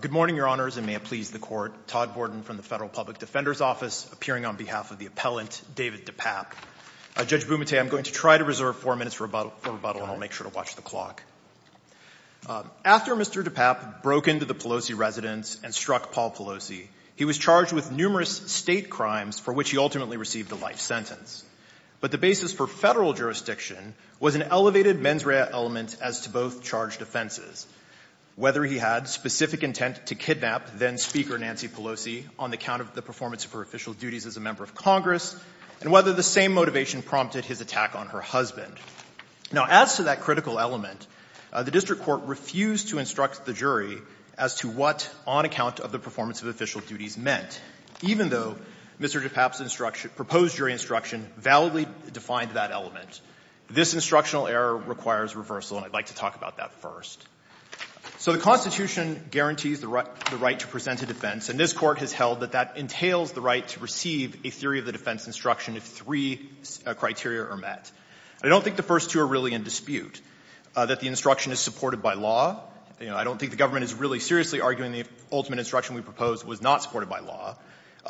Good morning, Your Honors, and may it please the Court. Todd Borden from the Federal Public Defender's Office, appearing on behalf of the appellant, David Depape. Judge Bumate, I'm going to try to reserve four minutes for rebuttal and I'll make sure to watch the clock. After Mr. Depape broke into the Pelosi residence and struck Paul Pelosi, he was charged with numerous state crimes for which he ultimately received a life sentence. But the basis for federal jurisdiction was an elevated mens rea element as to both charged offenses, whether he had specific intent to kidnap then-Speaker Nancy Pelosi on the account of the performance of her official duties as a member of Congress, and whether the same motivation prompted his attack on her husband. Now, as to that critical element, the district court refused to instruct the jury as to what, on account of the performance of official duties, meant, even though Mr. Depape's instruction, proposed jury instruction, validly defined that element. This instructional error requires reversal, and I'd like to talk about that first. So the Constitution guarantees the right to present a defense, and this Court has held that that entails the right to receive a theory of the defense instruction if three criteria are met. I don't think the first two are really in dispute, that the instruction is supported by law. I don't think the government is really seriously arguing the ultimate instruction we proposed was not supported by law.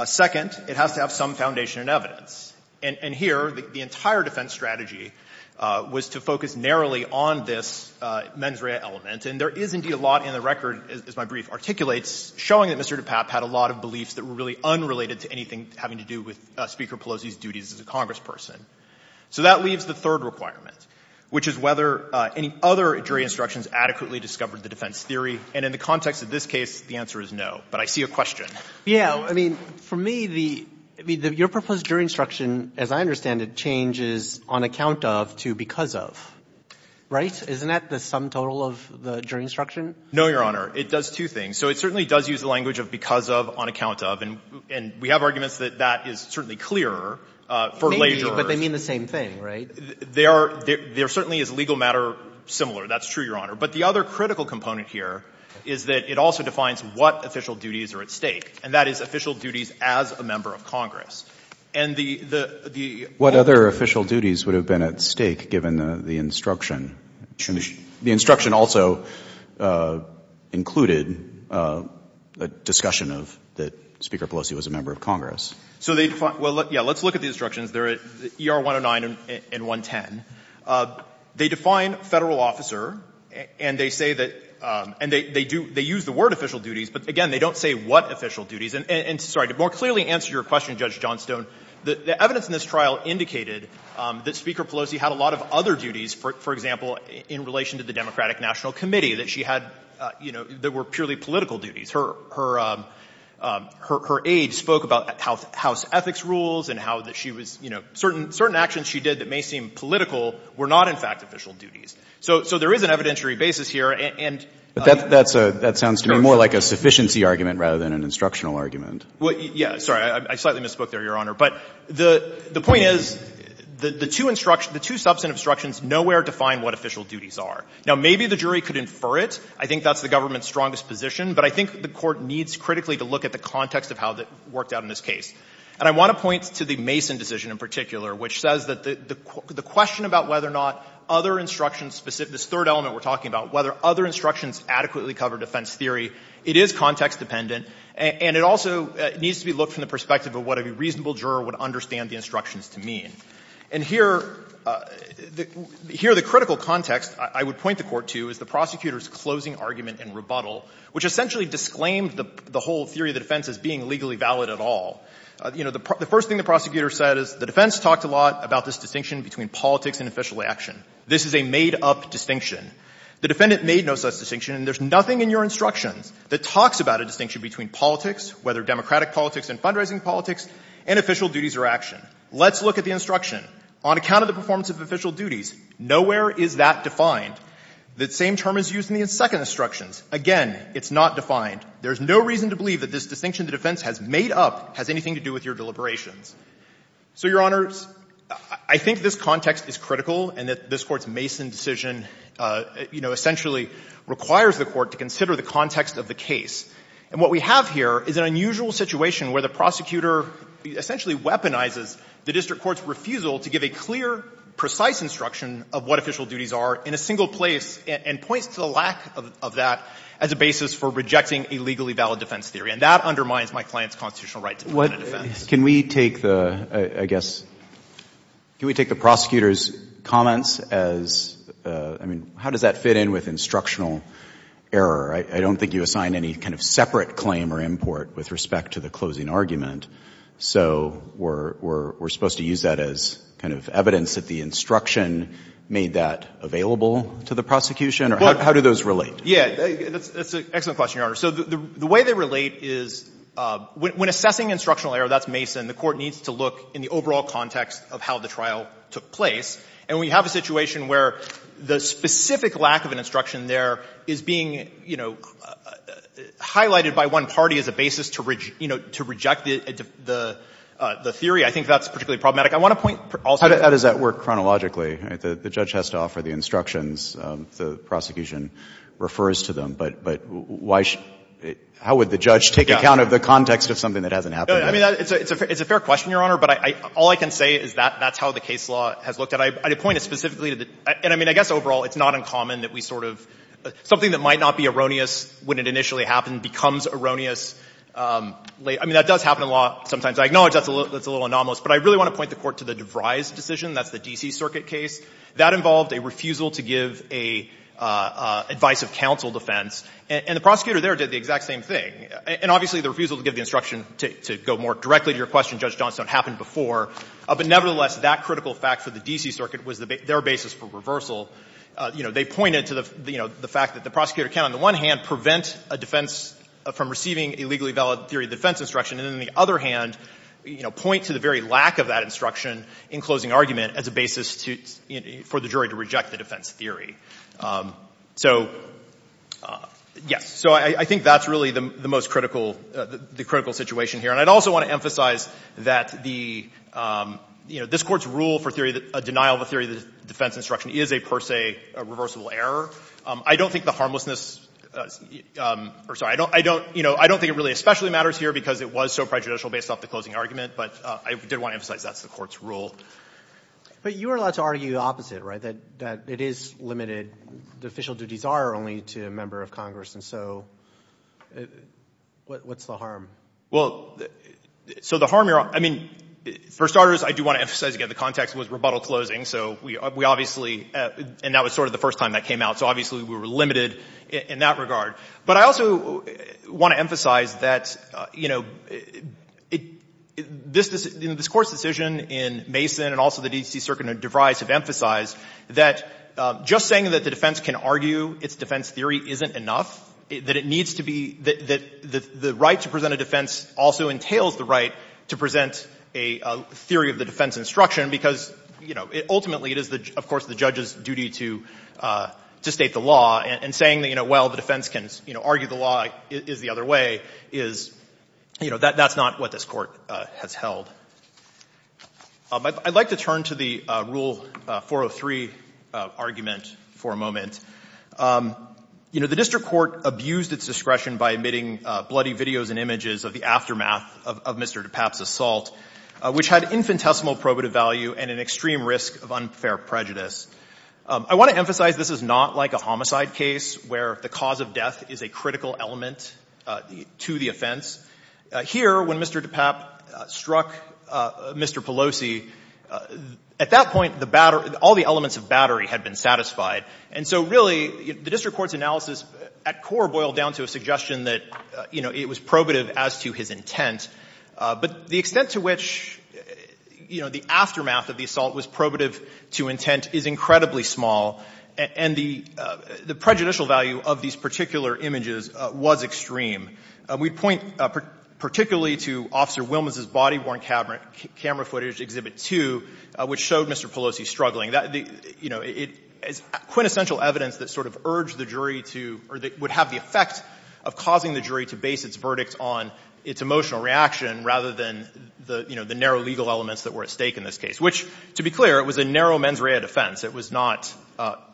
Second, it has to have some foundation in evidence. And here, the entire defense strategy was to focus narrowly on this mens rea element, and there is indeed a lot in the record, as my brief articulates, showing that Mr. Depape had a lot of beliefs that were really unrelated to anything having to do with Speaker Pelosi's duties as a congressperson. So that leaves the third requirement, which is whether any other jury instructions adequately discovered the defense theory, and in the context of this case, the answer is no. But I see a question. I mean, for me, the — I mean, your proposed jury instruction, as I understand it, changes on account of to because of, right? Isn't that the sum total of the jury instruction? No, Your Honor. It does two things. So it certainly does use the language of because of, on account of, and we have arguments that that is certainly clearer for leisure. Maybe, but they mean the same thing, right? They are — there certainly is legal matter similar. That's true, Your Honor. But the other critical component here is that it also defines what official duties are at stake, and that is official duties as a member of Congress. And the — What other official duties would have been at stake, given the instruction? The instruction also included a discussion of — that Speaker Pelosi was a member of Congress. So they — well, yeah, let's look at the instructions. They're at ER 109 and 110. They define Federal officer, and they say that — and they do — they use the word official duties, but again, they don't say what official duties. And, sorry, to more clearly answer your question, Judge Johnstone, the evidence in this trial indicated that Speaker Pelosi had a lot of other duties, for example, in relation to the Democratic National Committee, that she had, you know, that were purely political duties. Her — her aide spoke about House ethics rules and how that she was — you know, certain actions she did that may seem political were not, in fact, official duties. So there is an evidentiary basis here, and — But that's a — that sounds to me more like a sufficiency argument rather than an instructional argument. Well, yeah. Sorry, I slightly misspoke there, Your Honor. But the point is, the two instructions — the two substantive instructions nowhere define what official duties are. Now, maybe the jury could infer it. I think that's the government's strongest position. But I think the Court needs critically to look at the context of how that worked out in this case. And I want to point to the Mason decision in particular, which says that the — the question about whether or not other instructions specific — this third element we're talking about, whether other instructions adequately cover defense theory, it is context-dependent, and it also needs to be looked from the perspective of what a reasonable juror would understand the instructions to mean. And here — here, the critical context I would point the Court to is the prosecutor's closing argument in rebuttal, which essentially disclaimed the — the whole theory of the defense as being legally valid at all. You know, the — the first thing the prosecutor said is, the defense talked a lot about this distinction between politics and official action. This is a made-up distinction. The defendant made no such distinction. And there's nothing in your instructions that talks about a distinction between politics, whether democratic politics and fundraising politics, and official duties or action. Let's look at the instruction. On account of the performance of official duties, nowhere is that defined. The same term is used in the second instructions. Again, it's not defined. There's no reason to believe that this distinction the defense has made up has anything to do with your deliberations. So, Your Honors, I think this context is critical and that this Court's Mason decision, you know, essentially requires the Court to consider the context of the case. And what we have here is an unusual situation where the prosecutor essentially weaponizes the district court's refusal to give a clear, precise instruction of what official duties are in a single place and points to the lack of that as a basis for rejecting a legally valid defense theory. And that undermines my client's constitutional right to defend a defense. Can we take the — I guess — can we take the prosecutor's comments as — I mean, how does that fit in with instructional error? I don't think you assign any kind of separate claim or import with respect to the closing argument. So we're supposed to use that as kind of evidence that the instruction made that available to the prosecution, or how do those relate? Yeah, that's an excellent question, Your Honor. So the way they relate is when assessing instructional error, that's Mason, the Court needs to look in the overall context of how the trial took place. And we have a situation where the specific lack of an instruction there is being, you know, highlighted by one party as a basis to reject the theory. I think that's particularly problematic. I want to point — How does that work chronologically? The judge has to offer the instructions, the prosecution refers to them. But why — how would the judge take account of the context of something that hasn't happened yet? I mean, it's a fair question, Your Honor. But all I can say is that that's how the case law has looked at. I point specifically to — and I mean, I guess overall it's not uncommon that we sort of — something that might not be erroneous when it initially happened becomes erroneous — I mean, that does happen in law sometimes. I acknowledge that's a little anomalous. But I really want to point the Court to the DeVry's decision, that's the D.C. Circuit case. That involved a refusal to give a advice of counsel defense. And the prosecutor there did the exact same thing. And obviously the refusal to give the instruction to go more directly to your question, Judge Johnstone, happened before. But nevertheless, that critical fact for the D.C. Circuit was their basis for reversal. You know, they pointed to the fact that the prosecutor can, on the one hand, prevent a defense from receiving a legally valid theory of defense instruction, and then on the other hand, you know, point to the very lack of that instruction in closing argument as a basis for the jury to reject the defense theory. So, yes. So I think that's really the most critical — the critical situation here. And I'd also want to emphasize that the — you know, this Court's rule for a denial of a theory of defense instruction is a, per se, a reversible error. I don't think the harmlessness — or, sorry, I don't — you know, I don't think it really especially matters here because it was so prejudicial based off the closing argument. But I did want to emphasize that's the Court's rule. But you are allowed to argue the opposite, right? That it is limited — the official duties are only to a member of Congress. And so what's the harm? Well, so the harm here — I mean, for starters, I do want to emphasize again the context was rebuttal closing. So we obviously — and that was sort of the first time that came out. So obviously we were limited in that regard. But I also want to emphasize that, you know, this Court's decision in Mason and also the D.C. Circuit in DeVries have emphasized that just saying that the defense can argue its defense theory isn't enough, that it needs to be — that the right to present a defense also entails the right to present a theory of the defense instruction because, you know, ultimately it is, of course, the judge's duty to state the law. And saying that, you know, well, the defense can, you know, argue the law is the other way, is — you know, that's not what this Court has held. I'd like to turn to the Rule 403 argument for a moment. You know, the district court abused its discretion by omitting bloody videos and images of the aftermath of Mr. DePapp's assault, which had infinitesimal probative value and an extreme risk of unfair prejudice. I want to emphasize this is not like a homicide case where the cause of death is a critical element to the offense. Here when Mr. DePapp struck Mr. Pelosi, at that point the — all the elements of battery had been satisfied. And so, really, the district court's analysis at core boiled down to a suggestion that, you know, it was probative as to his intent, but the extent to which, you know, the aftermath of the assault was probative to intent is incredibly small. And the prejudicial value of these particular images was extreme. We point particularly to Officer Wilmes' body-worn camera footage, Exhibit 2, which showed Mr. Pelosi struggling. You know, it's quintessential evidence that sort of urged the jury to — or that would have the effect of causing the jury to base its verdict on its emotional reaction rather than, you know, the narrow legal elements that were at stake in this case, which, to be clear, it was a narrow mens rea defense. It was not,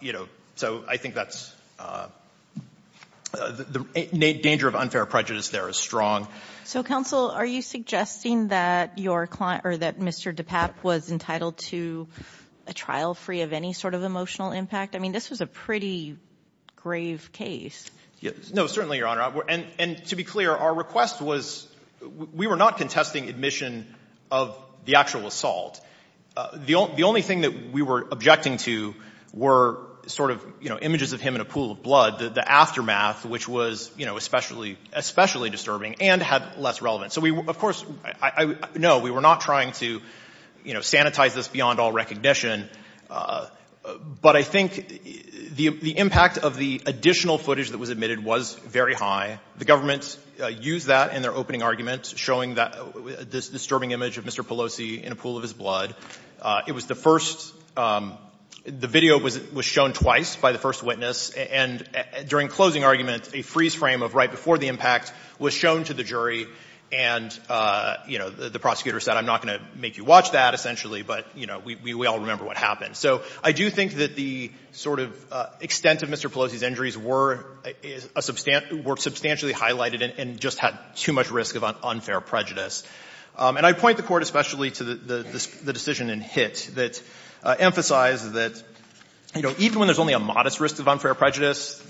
you know — so I think that's — the danger of unfair prejudice there is strong. So, counsel, are you suggesting that your client — or that Mr. DePapp was entitled to a trial free of any sort of emotional impact? I mean, this was a pretty grave case. No, certainly, Your Honor. And to be clear, our request was — we were not contesting admission of the actual assault. The only thing that we were objecting to were sort of, you know, images of him in a pool of blood, the aftermath, which was, you know, especially — especially disturbing and had less relevance. So we — of course, no, we were not trying to, you know, sanitize this beyond all recognition. But I think the impact of the additional footage that was admitted was very high. The government used that in their opening argument, showing that — this disturbing image of Mr. Pelosi in a pool of his blood. It was the first — the video was shown twice by the first witness. And during closing argument, a freeze frame of right before the impact was shown to the jury, and, you know, the prosecutor said, I'm not going to make you watch that, essentially, but, you know, we all remember what happened. So I do think that the sort of extent of Mr. Pelosi's injuries were a — were substantially highlighted and just had too much risk of unfair prejudice. And I point the Court especially to the decision in Hitt that emphasized that, you know, even when there's only a modest risk of unfair prejudice,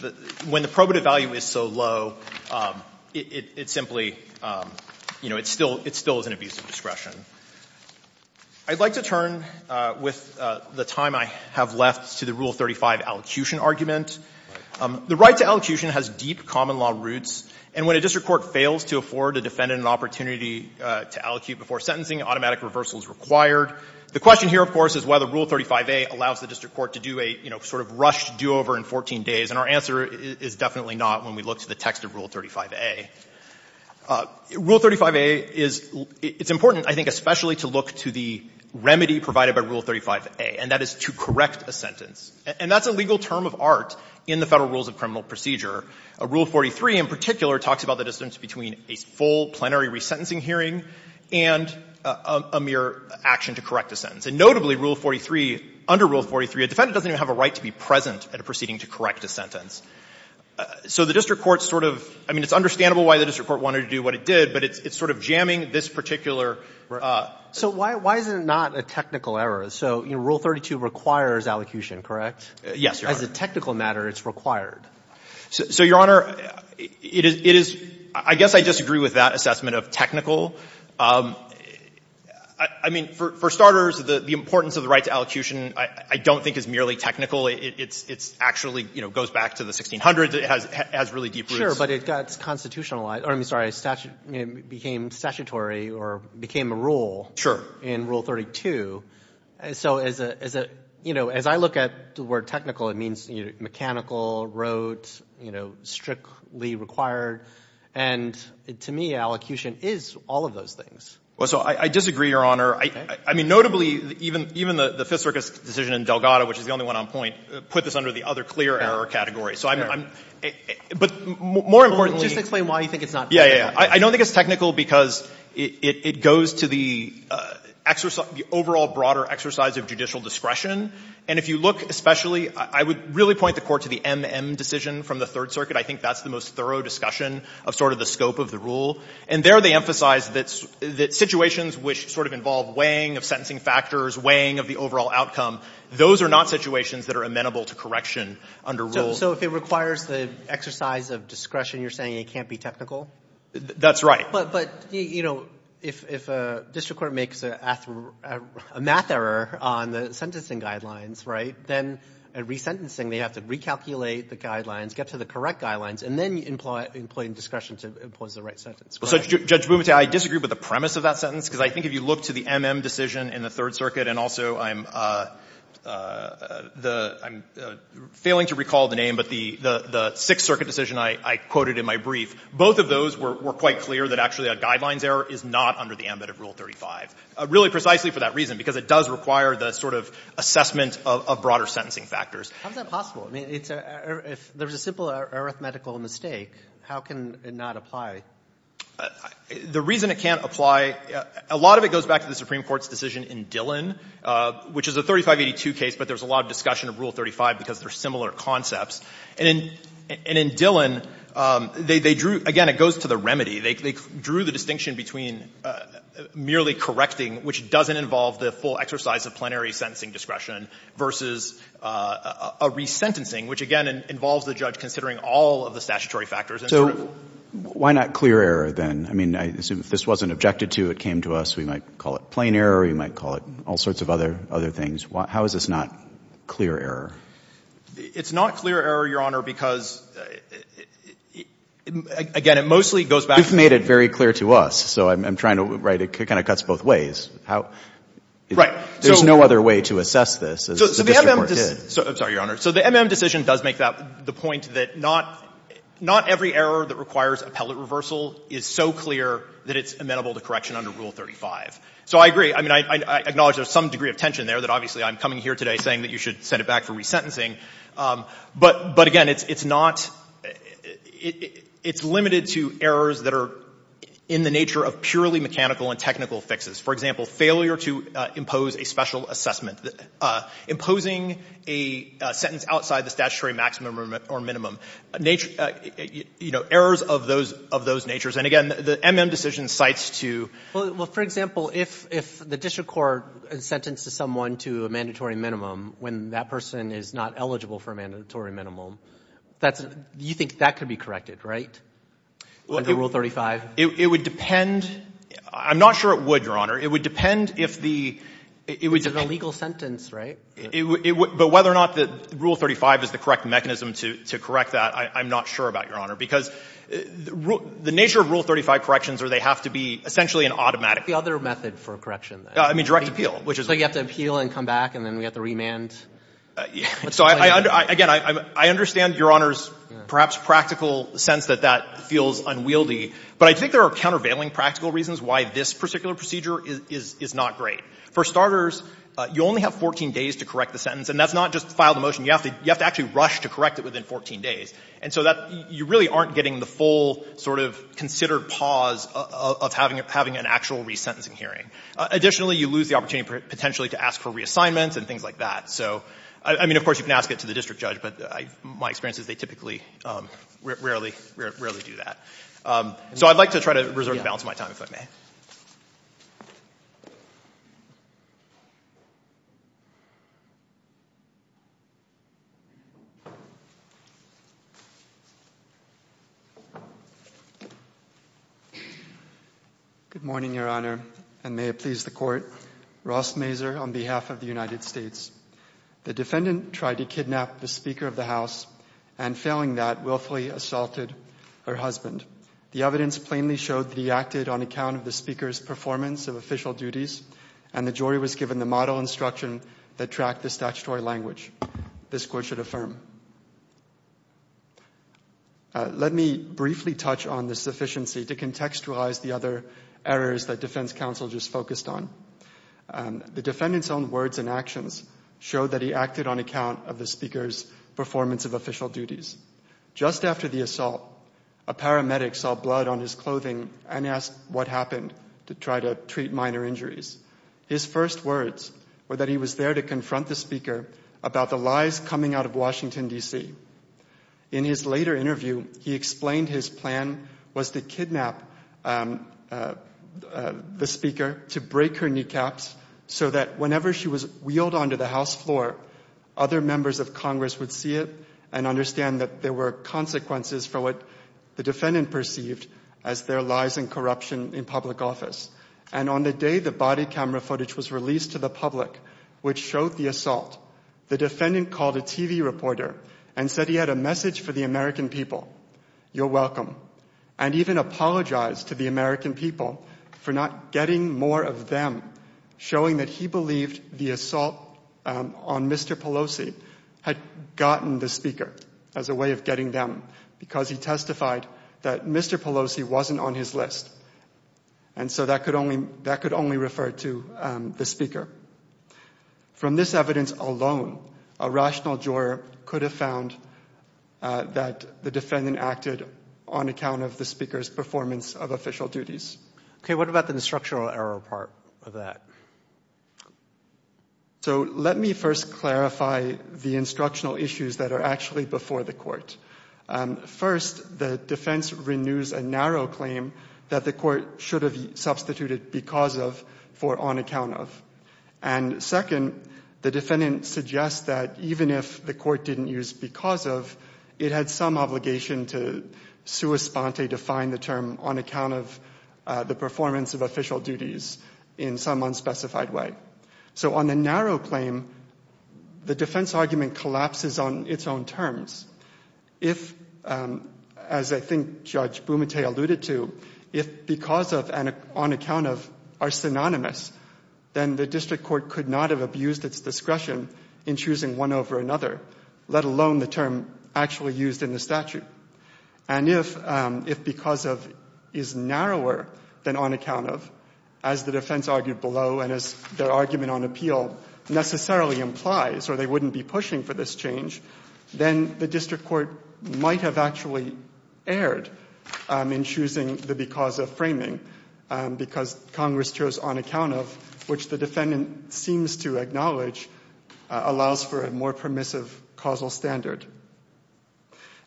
when the probative value is so low, it simply — you know, it still — it still is an abuse of discretion. I'd like to turn, with the time I have left, to the Rule 35 allocution argument. The right to allocution has deep common law roots, and when a district court fails to afford a defendant an opportunity to allocute before sentencing, automatic reversal is required. The question here, of course, is whether Rule 35a allows the district court to do a, you know, sort of rushed do-over in 14 days. And our answer is definitely not when we look to the text of Rule 35a. Rule 35a is — it's important, I think, especially to look to the remedy provided by Rule 35a, and that is to correct a sentence. And that's a legal term of art in the Federal Rules of Criminal Procedure. Rule 43 in particular talks about the distance between a full plenary resentencing hearing and a mere action to correct a sentence. And notably, Rule 43 — under Rule 43, a defendant doesn't even have a right to be present at a proceeding to correct a sentence. So the district court sort of — I mean, it's understandable why the district court wanted to do what it did, but it's sort of jamming this particular — So why — why is it not a technical error? So, you know, Rule 32 requires allocution, correct? Yes, Your Honor. As a technical matter, it's required. So, Your Honor, it is — I guess I disagree with that assessment of technical. I mean, for starters, the importance of the right to allocution I don't think is merely technical. It's actually, you know, goes back to the 1600s. It has really deep roots. Sure, but it got constitutionalized — or, I mean, sorry, it became statutory or became a rule in Rule 32. So as a — you know, as I look at the word technical, it means mechanical, wrote, you know, strictly required. And to me, allocution is all of those things. Well, so I disagree, Your Honor. I mean, notably, even the Fiserkes decision in Delgado, which is the only one on point, put this under the other clear error category. So I'm — but more importantly — Just explain why you think it's not technical. Yeah, yeah, yeah. I don't think it's technical because it goes to the overall broader exercise of judicial discretion. And if you look especially — I would really point the Court to the M-M decision from the Third Circuit. I think that's the most thorough discussion of sort of the scope of the rule. And there they emphasize that situations which sort of involve weighing of sentencing factors, weighing of the overall outcome, those are not situations that are amenable to correction under rule. So if it requires the exercise of discretion, you're saying it can't be technical? That's right. But, you know, if a district court makes a math error on the sentencing guidelines, right, then at resentencing, they have to recalculate the guidelines, get to the correct guidelines, and then employ discretion to impose the right sentence. Well, Judge Bumatea, I disagree with the premise of that sentence because I think if you look to the M-M decision in the Third Circuit, and also I'm — I'm failing to recall the name, but the Sixth Circuit decision I quoted in my brief, both of those were quite clear that actually a guidelines error is not under the ambit of Rule 35, really precisely for that reason, because it does require the sort of assessment of broader sentencing factors. How is that possible? I mean, it's a — if there's a simple arithmetical mistake, how can it not apply? The reason it can't apply — a lot of it goes back to the Supreme Court's decision in Dillon, which is a 3582 case, but there's a lot of discussion of Rule 35 because they're similar concepts. And in — and in Dillon, they drew — again, it goes to the remedy. They drew the distinction between merely correcting, which doesn't involve the full exercise of plenary sentencing discretion, versus a resentencing, which, again, involves the judge considering all of the statutory factors and sort of — So why not clear error, then? I mean, I assume if this wasn't objected to, it came to us, we might call it plain error, we might call it all sorts of other — other things. How is this not clear error? It's not clear error, Your Honor, because, again, it mostly goes back to — You've made it very clear to us, so I'm trying to — right, it kind of cuts both ways. How — Right. There's no other way to assess this as the district court did. So the MM — I'm sorry, Your Honor. So the MM decision does make that — the point that not — not every error that requires appellate reversal is so clear that it's amenable to correction under Rule 35. So I agree. I mean, I acknowledge there's some degree of tension there, that obviously I'm coming here today saying that you should send it back for resentencing. But again, it's not — it's limited to errors that are in the nature of purely mechanical and technical fixes. For example, failure to impose a special assessment, imposing a sentence outside the statutory maximum or minimum, nature — you know, errors of those — of those natures. And again, the MM decision cites to — Well, for example, if the district court sentenced someone to a mandatory minimum when that person is not eligible for a mandatory minimum, that's — you think that could be corrected, right, under Rule 35? It would depend — I'm not sure it would, Your Honor. It would depend if the — It's an illegal sentence, right? It — but whether or not Rule 35 is the correct mechanism to correct that, I'm not sure about, Your Honor, because the nature of Rule 35 corrections are they have to be essentially an automatic — What's the other method for a correction, then? I mean, direct appeal, which is — So you have to appeal and come back, and then we have to remand? Yeah. So I — again, I understand, Your Honor's perhaps practical sense that that feels unwieldy, but I think there are countervailing practical reasons why this particular procedure is — is not great. For starters, you only have 14 days to correct the sentence, and that's not just file the motion. You have to — you have to actually rush to correct it within 14 days. And so that — you really aren't getting the full sort of considered pause of having an actual resentencing hearing. Additionally, you lose the opportunity potentially to ask for reassignments and things like that. So I mean, of course, you can ask it to the district judge, but I — my experience is they typically rarely — rarely do that. So I'd like to try to reserve the balance of my time, if I may. Good morning, Your Honor, and may it please the Court. Ross Mazur on behalf of the United States. The defendant tried to kidnap the Speaker of the House, and failing that, willfully assaulted her husband. The evidence plainly showed that he acted on account of the Speaker's performance of official duties, and the jury was given the model instruction that tracked the statutory language. This Court should affirm. Let me briefly touch on this sufficiency to contextualize the other errors that defense counsel just focused on. The defendant's own words and actions show that he acted on account of the Speaker's performance of official duties. Just after the assault, a paramedic saw blood on his clothing and asked what happened to try to treat minor injuries. His first words were that he was there to confront the Speaker about the lies coming out of Washington, D.C. In his later interview, he explained his plan was to kidnap the Speaker to break her kneecaps so that whenever she was wheeled onto the House floor, other members of Congress would see it and understand that there were consequences for what the defendant perceived as their lies and corruption in public office. And on the day the body camera footage was released to the public, which showed the assault, the defendant called a TV reporter and said he had a message for the American people, you're welcome, and even apologized to the American people for not getting more of them, showing that he believed the assault on Mr. Pelosi had gotten the Speaker as a way of getting them because he testified that Mr. Pelosi wasn't on his list. And so that could only refer to the Speaker. From this evidence alone, a rational juror could have found that the defendant acted on account of the Speaker's performance of official duties. Okay, what about the instructional error part of that? So let me first clarify the instructional issues that are actually before the court. First, the defense renews a narrow claim that the court should have substituted because of for on account of. And second, the defendant suggests that even if the court didn't use because of, it had some obligation to sua sponte define the term on account of the performance of official duties in some unspecified way. So on the narrow claim, the defense argument collapses on its own terms. If, as I think Judge Bumate alluded to, if because of and on account of are synonymous, then the district court could not have abused its discretion in choosing one over another, let alone the term actually used in the statute. And if because of is narrower than on account of, as the defense argued below and as their argument on appeal necessarily implies, or they wouldn't be pushing for this change, then the district court might have actually erred in choosing the because of framing because Congress chose on account of, which the defendant seems to acknowledge allows for a more permissive causal standard.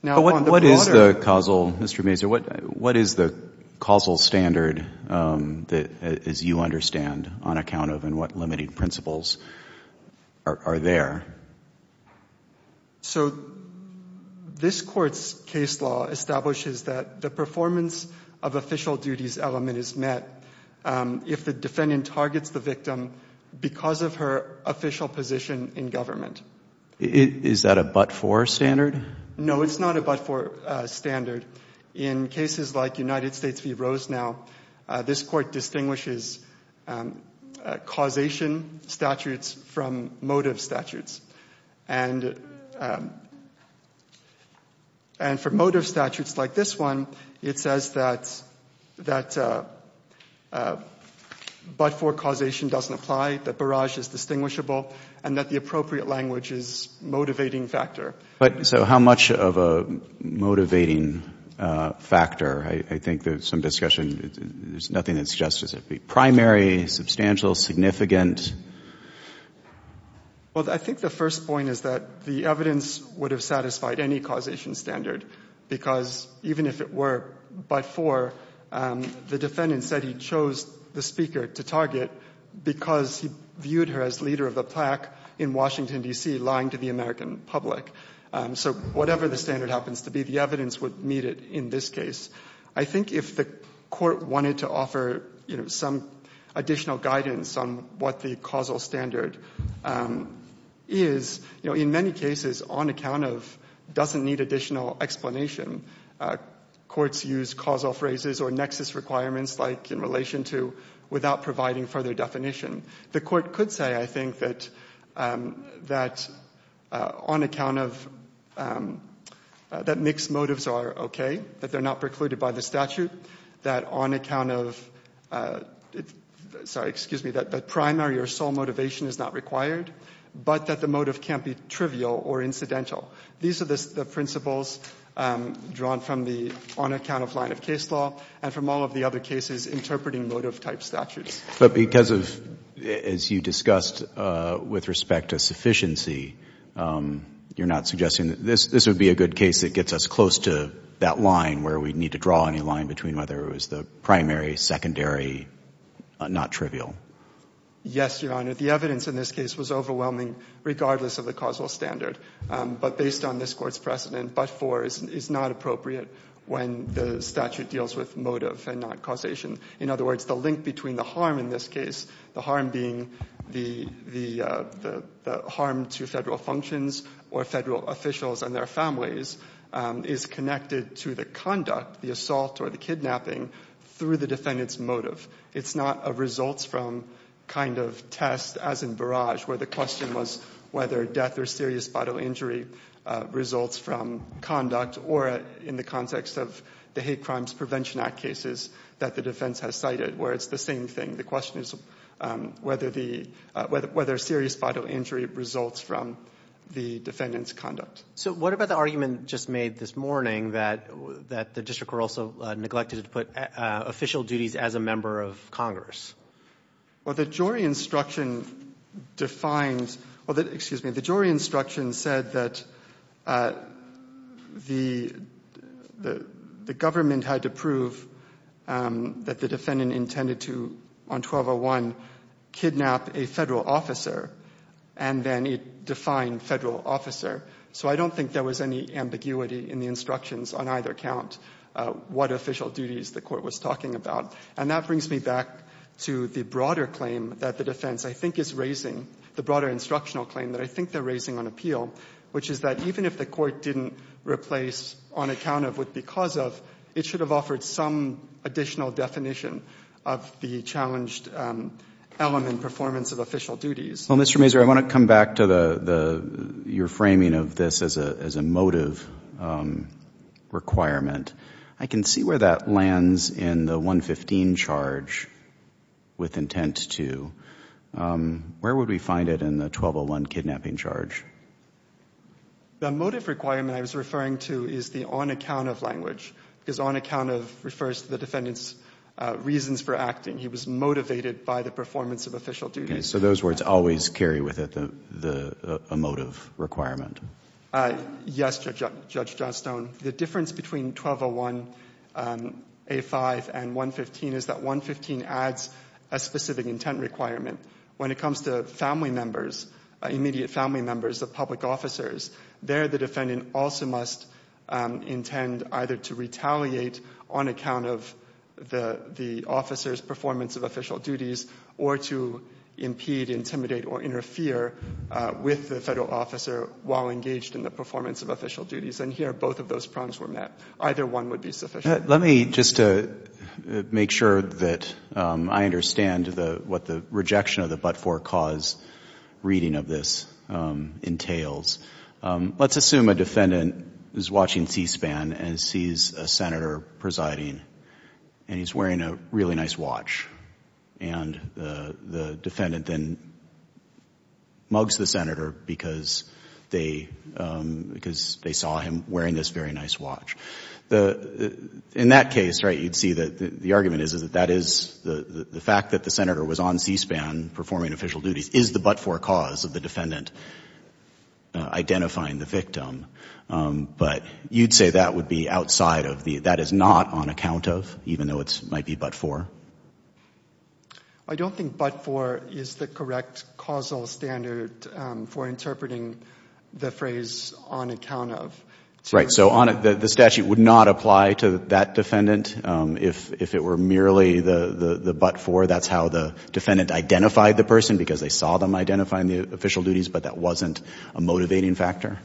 But what is the causal, Mr. Mazur, what is the causal standard that, as you understand, on account of and what limited principles are there? So this court's case law establishes that the performance of official duties element is met if the defendant targets the victim because of her official position in government. Is that a but-for standard? No, it's not a but-for standard. In cases like United States v. Rosenau, this court distinguishes causation statutes from motive statutes. And for motive statutes like this one, it says that but-for causation doesn't apply, that barrage is distinguishable, and that the appropriate language is motivating factor. So how much of a motivating factor? I think there's some discussion. There's nothing that suggests it would be primary, substantial, significant. Well, I think the first point is that the evidence would have satisfied any causation standard because even if it were but-for, the defendant said he chose the speaker to target because he viewed her as leader of the plaque in Washington, D.C., lying to the American public. So whatever the standard happens to be, the evidence would meet it in this case. I think if the court wanted to offer some additional guidance on what the causal standard is, in many cases, on account of doesn't need additional explanation, courts use causal phrases or nexus requirements like in relation to without providing further definition. The court could say, I think, that on account of that mixed motives are okay, that they're not precluded by the statute, that on account of, sorry, excuse me, that primary or sole motivation is not required, but that the motive can't be trivial or incidental. These are the principles drawn from the on-account-of line of case law and from all of the other cases interpreting motive-type statutes. But because of, as you discussed, with respect to sufficiency, you're not suggesting that this would be a good case that gets us close to that line where we'd need to draw any line between whether it was the primary, secondary, not trivial? Yes, Your Honor. The evidence in this case was overwhelming regardless of the causal standard. But based on this Court's precedent, but for is not appropriate when the statute deals with motive and not causation. In other words, the link between the harm in this case, the harm being the harm to Federal functions or Federal officials and their families, is connected to the conduct, the assault or the kidnapping through the defendant's motive. It's not a results-from kind of test, as in Barrage, where the question was whether death or serious bodily injury results from conduct or in the context of the Hate Crimes Prevention Act cases that the defense has cited, where it's the same thing. The question is whether serious bodily injury results from the defendant's conduct. So what about the argument just made this morning that the district were also neglected to put official duties as a member of Congress? Well, the jury instruction defines, excuse me, the jury instruction said that the government had to prove that the defendant intended to, on 1201, kidnap a Federal officer, and then it defined Federal officer. So I don't think there was any ambiguity in the instructions on either count what official duties the Court was talking about. And that brings me back to the broader claim that the defense I think is raising, the broader instructional claim that I think they're raising on appeal, which is that even if the Court didn't replace on account of with because of, it should have offered some additional definition of the challenged element performance of official duties. Well, Mr. Mazur, I want to come back to your framing of this as a motive requirement. I can see where that lands in the 115 charge with intent to. Where would we find it in the 1201 kidnapping charge? The motive requirement I was referring to is the on account of language, because on account of refers to the defendant's reasons for acting. He was motivated by the performance of official duties. Okay. So those words always carry with it a motive requirement? Yes, Judge Johnstone. The difference between 1201A5 and 115 is that 115 adds a specific intent requirement. When it comes to family members, immediate family members of public officers, there the defendant also must intend either to retaliate on account of the officer's performance of official duties or to impede, intimidate, or interfere with the federal officer while engaged in the performance of official duties. And here both of those prongs were met. Either one would be sufficient. Let me just make sure that I understand what the rejection of the but-for cause reading of this entails. Let's assume a defendant is watching C-SPAN and sees a senator presiding and he's wearing a really nice watch. And the defendant then mugs the senator because they saw him wearing this very nice watch. The, in that case, right, you'd see that the argument is that that is the fact that the senator was on C-SPAN performing official duties is the but-for cause of the defendant identifying the victim. But you'd say that would be outside of the, that is not on account of, even though it might be but-for? I don't think but-for is the correct causal standard for interpreting the phrase on account of. Right, so the statute would not apply to that defendant if it were merely the but-for. That's how the defendant identified the person because they saw them identifying the official duties, but that wasn't a motivating factor?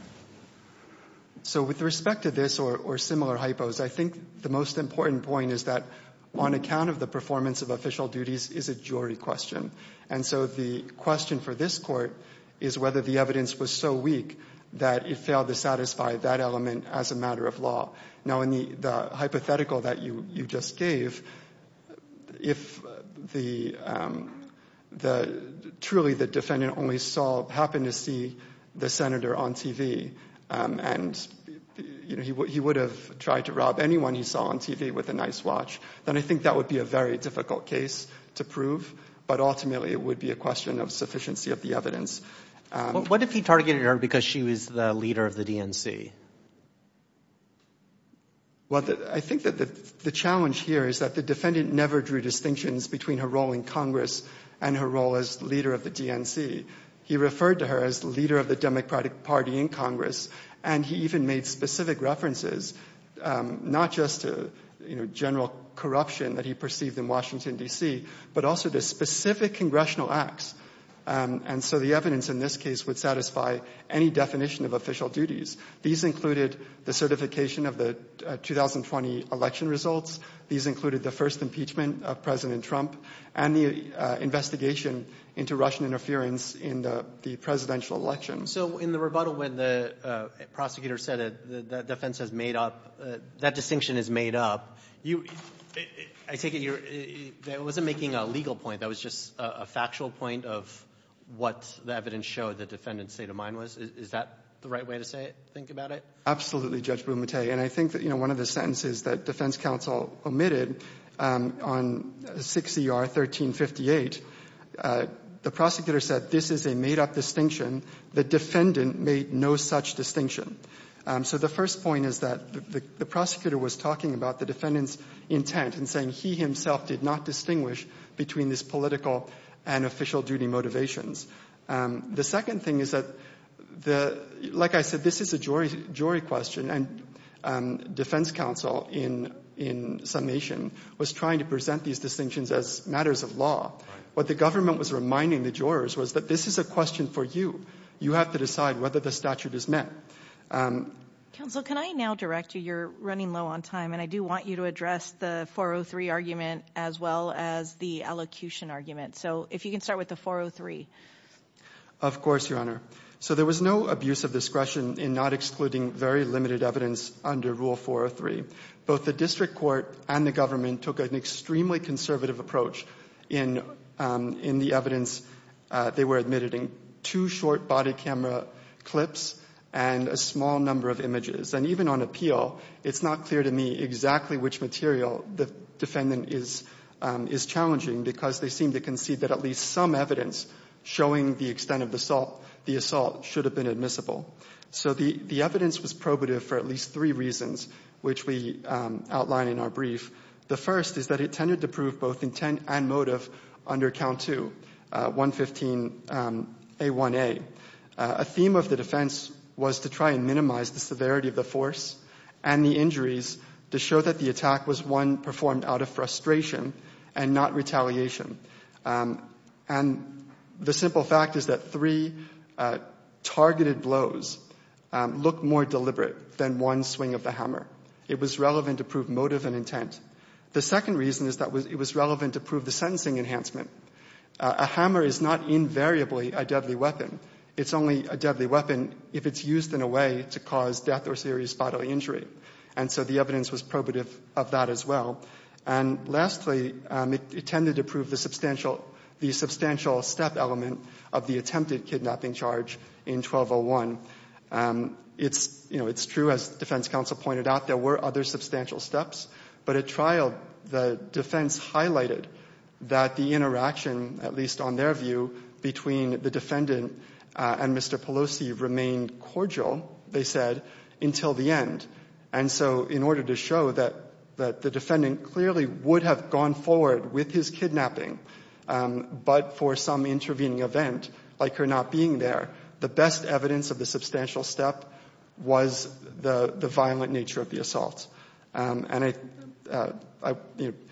So with respect to this or similar hypos, I think the most important point is that on account of the performance of official duties is a jury question. And so the question for this court is whether the evidence was so weak that it failed to satisfy that element as a matter of law. Now in the hypothetical that you just gave, if the, truly the defendant only saw, happened to see the senator on TV and he would have tried to rob anyone he saw on TV with a nice watch, then I think that would be a very difficult case to prove, but ultimately it would be a question of sufficiency of the evidence. What if he targeted her because she was the leader of the DNC? Well, I think that the challenge here is that the defendant never drew distinctions between her role in Congress and her role as leader of the DNC. He referred to her as leader of the Democratic Party in Congress, and he even made specific references, not just to, you know, general corruption that he perceived in Washington, D.C., but also to specific congressional acts. And so the evidence in this case would satisfy any definition of official duties. These included the certification of the 2020 election results. These included the first impeachment of President Trump and the investigation into Russian interference in the presidential election. So in the rebuttal when the prosecutor said that defense has made up, that distinction is made up, you, I take it you're, that wasn't making a legal point. That was just a factual point of what the evidence showed the defendant's state of mind was. Is that the right way to say it, think about it? Absolutely, Judge Bumate. And I think that, you know, one of the sentences that defense counsel omitted on 6 ER 1358, the prosecutor said, this is a made up distinction. The defendant made no such distinction. So the first point is that the prosecutor was talking about the defendant's intent and he himself did not distinguish between this political and official duty motivations. The second thing is that, like I said, this is a jury question. And defense counsel in summation was trying to present these distinctions as matters of What the government was reminding the jurors was that this is a question for you. You have to decide whether the statute is met. Counsel, can I now direct you? You're running low on time. And I do want you to address the 403 argument as well as the elocution argument. So if you can start with the 403. Of course, Your Honor. So there was no abuse of discretion in not excluding very limited evidence under Rule 403. Both the district court and the government took an extremely conservative approach in the evidence. They were admitted in two short body camera clips and a small number of images. And even on appeal, it's not clear to me exactly which material the defendant is challenging because they seem to concede that at least some evidence showing the extent of the assault should have been admissible. So the evidence was probative for at least three reasons, which we outline in our brief. The first is that it tended to prove both intent and motive under Count 2, 115A1A. A theme of the defense was to try and minimize the severity of the force and the injuries to show that the attack was one performed out of frustration and not retaliation. And the simple fact is that three targeted blows look more deliberate than one swing of the hammer. It was relevant to prove motive and intent. The second reason is that it was relevant to prove the sentencing enhancement. A hammer is not invariably a deadly weapon. It's only a deadly weapon if it's used in a way to cause death or serious bodily injury. And so the evidence was probative of that as well. And lastly, it tended to prove the substantial step element of the attempted kidnapping charge in 1201. It's true, as defense counsel pointed out, there were other substantial steps. But at trial, the defense highlighted that the interaction, at least on their view, between the defendant and Mr. Pelosi remained cordial, they said, until the end. And so in order to show that the defendant clearly would have gone forward with his kidnapping, but for some intervening event, like her not being there, the best evidence of the substantial step was the violent nature of the assault. And the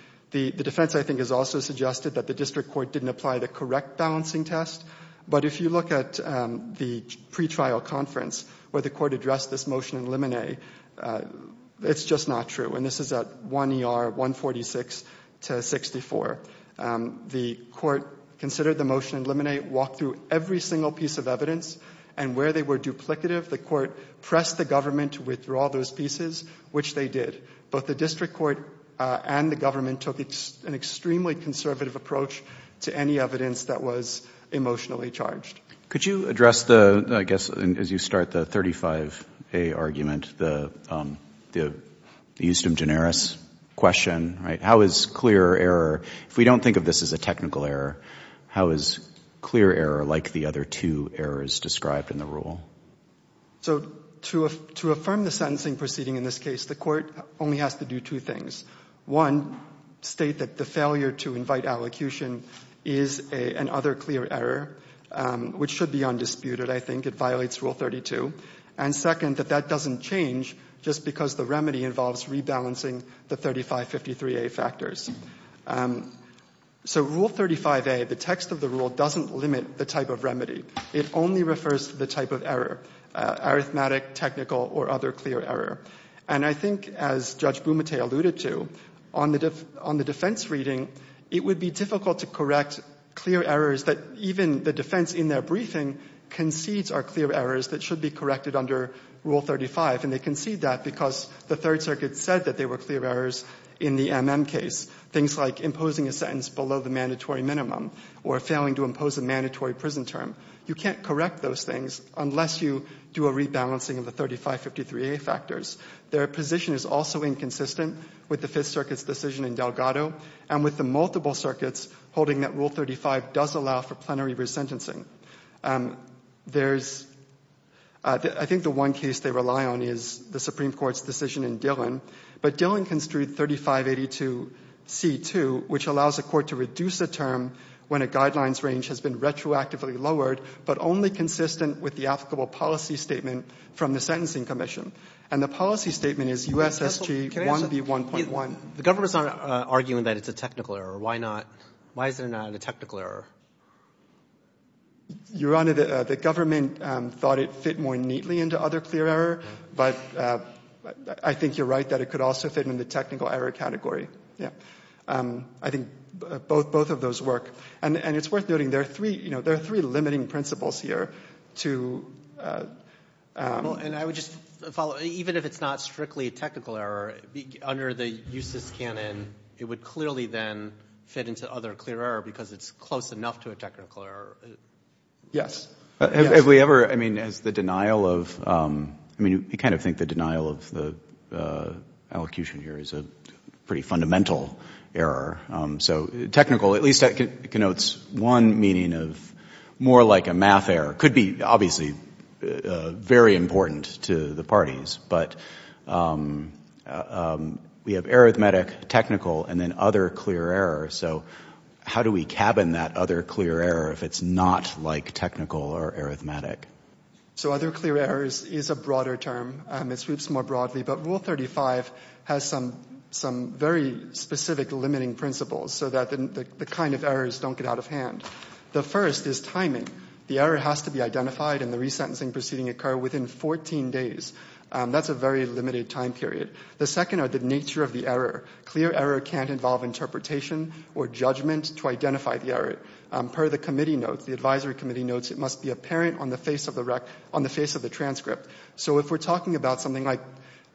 defense, I think, has also suggested that the district court didn't apply the correct balancing test. But if you look at the pretrial conference, where the court addressed this motion in limine, it's just not true. And this is at 1 ER 146 to 64. The court considered the motion in limine, walked through every single piece of evidence, and where they were duplicative, the court pressed the government to withdraw those pieces, which they did. But the district court and the government took an extremely conservative approach to any evidence that was emotionally charged. Could you address the, I guess, as you start, the 35A argument, the Eustim generis question, right? How is clear error, if we don't think of this as a technical error, how is clear error like the other two errors described in the rule? So to affirm the sentencing proceeding in this case, the court only has to do two things. One, state that the failure to invite allocution is an other clear error, which should be undisputed, I think. It violates Rule 32. And second, that that doesn't change just because the remedy involves rebalancing the 3553A factors. So Rule 35A, the text of the rule, doesn't limit the type of remedy. It only refers to the type of error, arithmetic, technical, or other clear error. And I think, as Judge Bumate alluded to, on the defense reading, it would be difficult to correct clear errors that even the defense in their briefing concedes are clear errors that should be corrected under Rule 35. And they concede that because the Third Circuit said that they were clear errors in the MM case, things like imposing a sentence below the mandatory minimum, or failing to impose a mandatory prison term, you can't correct those things unless you do a rebalancing of the 3553A factors. Their position is also inconsistent with the Fifth Circuit's decision in Delgado and with the multiple circuits holding that Rule 35 does allow for plenary resentencing. I think the one case they rely on is the Supreme Court's decision in Dillon. But Dillon construed 3582C2, which allows a court to reduce a term when a guidelines range has been retroactively lowered, but only consistent with the applicable policy statement from the Sentencing Commission. And the policy statement is USSG 1B1.1. Can I ask a question? The government's not arguing that it's a technical error. Why not? Why is it not a technical error? Your Honor, the government thought it fit more neatly into other clear error. But I think you're right that it could also fit in the technical error category. Yeah, I think both of those work. And it's worth noting there are three limiting principles here to... And I would just follow. Even if it's not strictly a technical error, under the USS canon, it would clearly then fit into other clear error because it's close enough to a technical error. Yes. Have we ever, I mean, as the denial of... I mean, you kind of think the denial of the allocution here is a pretty fundamental error. So technical, at least that connotes one meaning of more like a math error, could be obviously very important to the parties. But we have arithmetic, technical, and then other clear error. So how do we cabin that other clear error if it's not like technical or arithmetic? So other clear errors is a broader term. It sweeps more broadly. But Rule 35 has some very specific limiting principles so that the kind of errors don't get out of hand. The first is timing. The error has to be identified and the resentencing proceeding occur within 14 days. That's a very limited time period. The second are the nature of the error. Clear error can't involve interpretation or judgment to identify the error. Per the committee notes, the advisory committee notes, it must be apparent on the face of the transcript. So if we're talking about something like,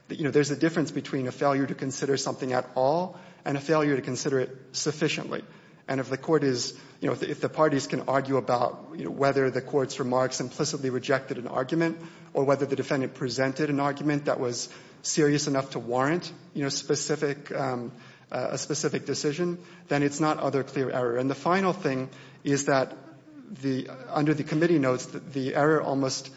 you know, there's a difference between a failure to consider something at all and a failure to consider it sufficiently. And if the court is, you know, if the parties can argue about, you know, whether the court's remarks implicitly rejected an argument or whether the defendant presented an argument that was serious enough to warrant, you know, a specific decision, then it's not other clear error. And the final thing is that under the committee notes, the error almost,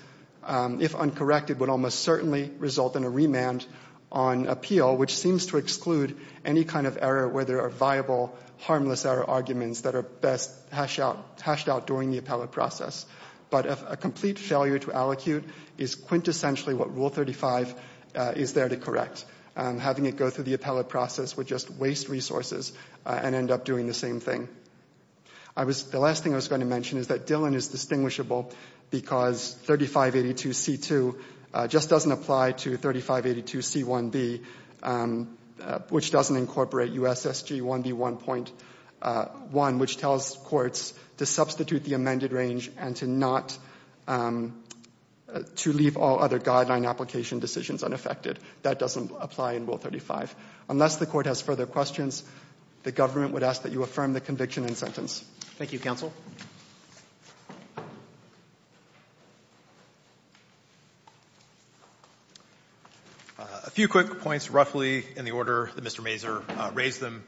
if uncorrected, would almost certainly result in a remand on appeal, which seems to exclude any kind of error where there are viable, harmless error arguments that are best hashed out during the appellate process. But a complete failure to allocute is quintessentially what Rule 35 is there to correct. Having it go through the appellate process would just waste resources and end up doing the same thing. The last thing I was going to mention is that Dillon is distinguishable because 3582C2 just doesn't apply to 3582C1B, which doesn't incorporate USSG 1B1.1, which tells courts to substitute the amended range and to leave all other guideline application decisions unaffected. That doesn't apply in Rule 35. Unless the court has further questions, the government would ask that you affirm the conviction and sentence. Thank you, counsel. A few quick points, roughly, in the order that Mr. Mazur raised them.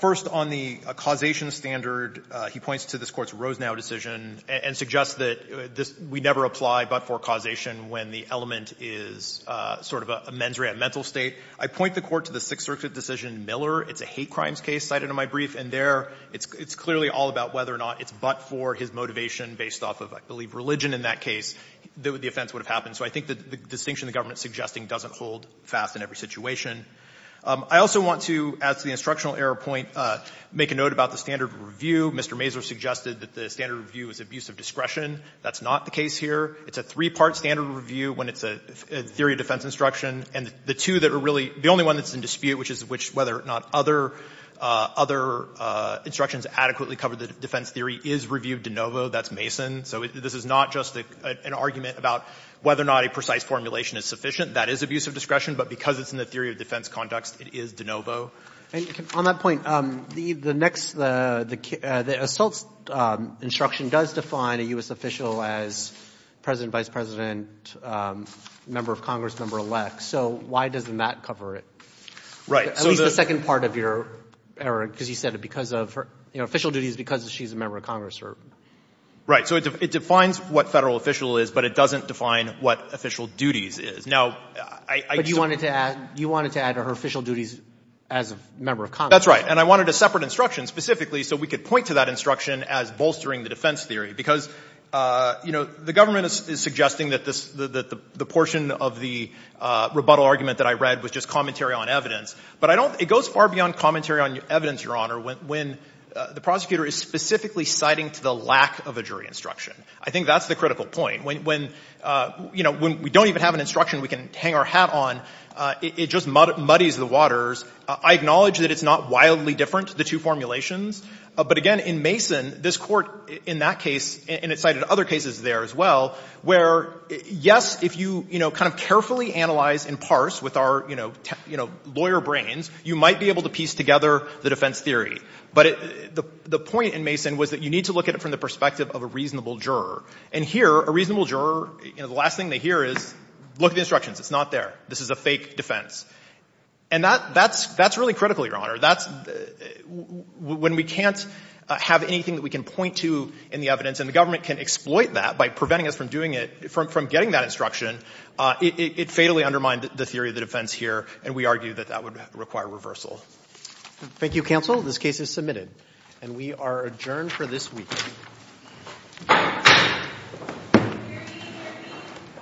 First, on the causation standard, he points to this court's Rosenau decision and suggests that we never apply but for causation when the element is sort of a mens rea, a mental state. I point the court to the Sixth Circuit decision Miller. It's a hate crimes case cited in my brief. And there, it's clearly all about whether or not it's but for his motivation based off of, I believe, religion in that case that the offense would have happened. So I think that the distinction the government is suggesting doesn't hold fast in every situation. I also want to, as the instructional error point, make a note about the standard review. Mr. Mazur suggested that the standard review is abuse of discretion. That's not the case here. It's a three-part standard review when it's a theory of defense instruction. And the two that are really, the only one that's in dispute, which is whether or not other instructions adequately cover the defense theory, is review of de novo. That's Mason. So this is not just an argument about whether or not a precise formulation is sufficient. That is abuse of discretion. But because it's in the theory of defense context, it is de novo. And on that point, the assault instruction does define a U.S. official as president, vice president, member of Congress, member-elect. So why doesn't that cover it? Right. At least the second part of your error, because you said it because of her, you know, official duties because she's a member of Congress. Right. So it defines what federal official is, but it doesn't define what official duties is. Now, I— But you wanted to add to her official duties as a member of Congress. That's right. And I wanted a separate instruction specifically so we could point to that instruction as bolstering the defense theory. Because, you know, the government is suggesting that the portion of the rebuttal argument that I read was just commentary on evidence. But I don't— It goes far beyond commentary on evidence, Your Honor, when the prosecutor is specifically citing to the lack of a jury instruction. I think that's the critical point. When, you know, we don't even have an instruction we can hang our hat on, it just muddies the waters. I acknowledge that it's not wildly different, the two formulations. But again, in Mason, this Court in that case, and it cited other cases there as well, where, yes, if you, you know, kind of carefully analyze and parse with our, you know, lawyer brains, you might be able to piece together the defense theory. But the point in Mason was that you need to look at it from the perspective of a reasonable juror. And here, a reasonable juror, you know, the last thing they hear is, look at the It's not there. This is a fake defense. And that's really critical, Your Honor. That's when we can't have anything that we can point to in the evidence, and the government can exploit that by preventing us from doing it, from getting that instruction, it fatally undermined the theory of the defense here. And we argue that that would require reversal. Thank you, counsel. This case is submitted. And we are adjourned for this week.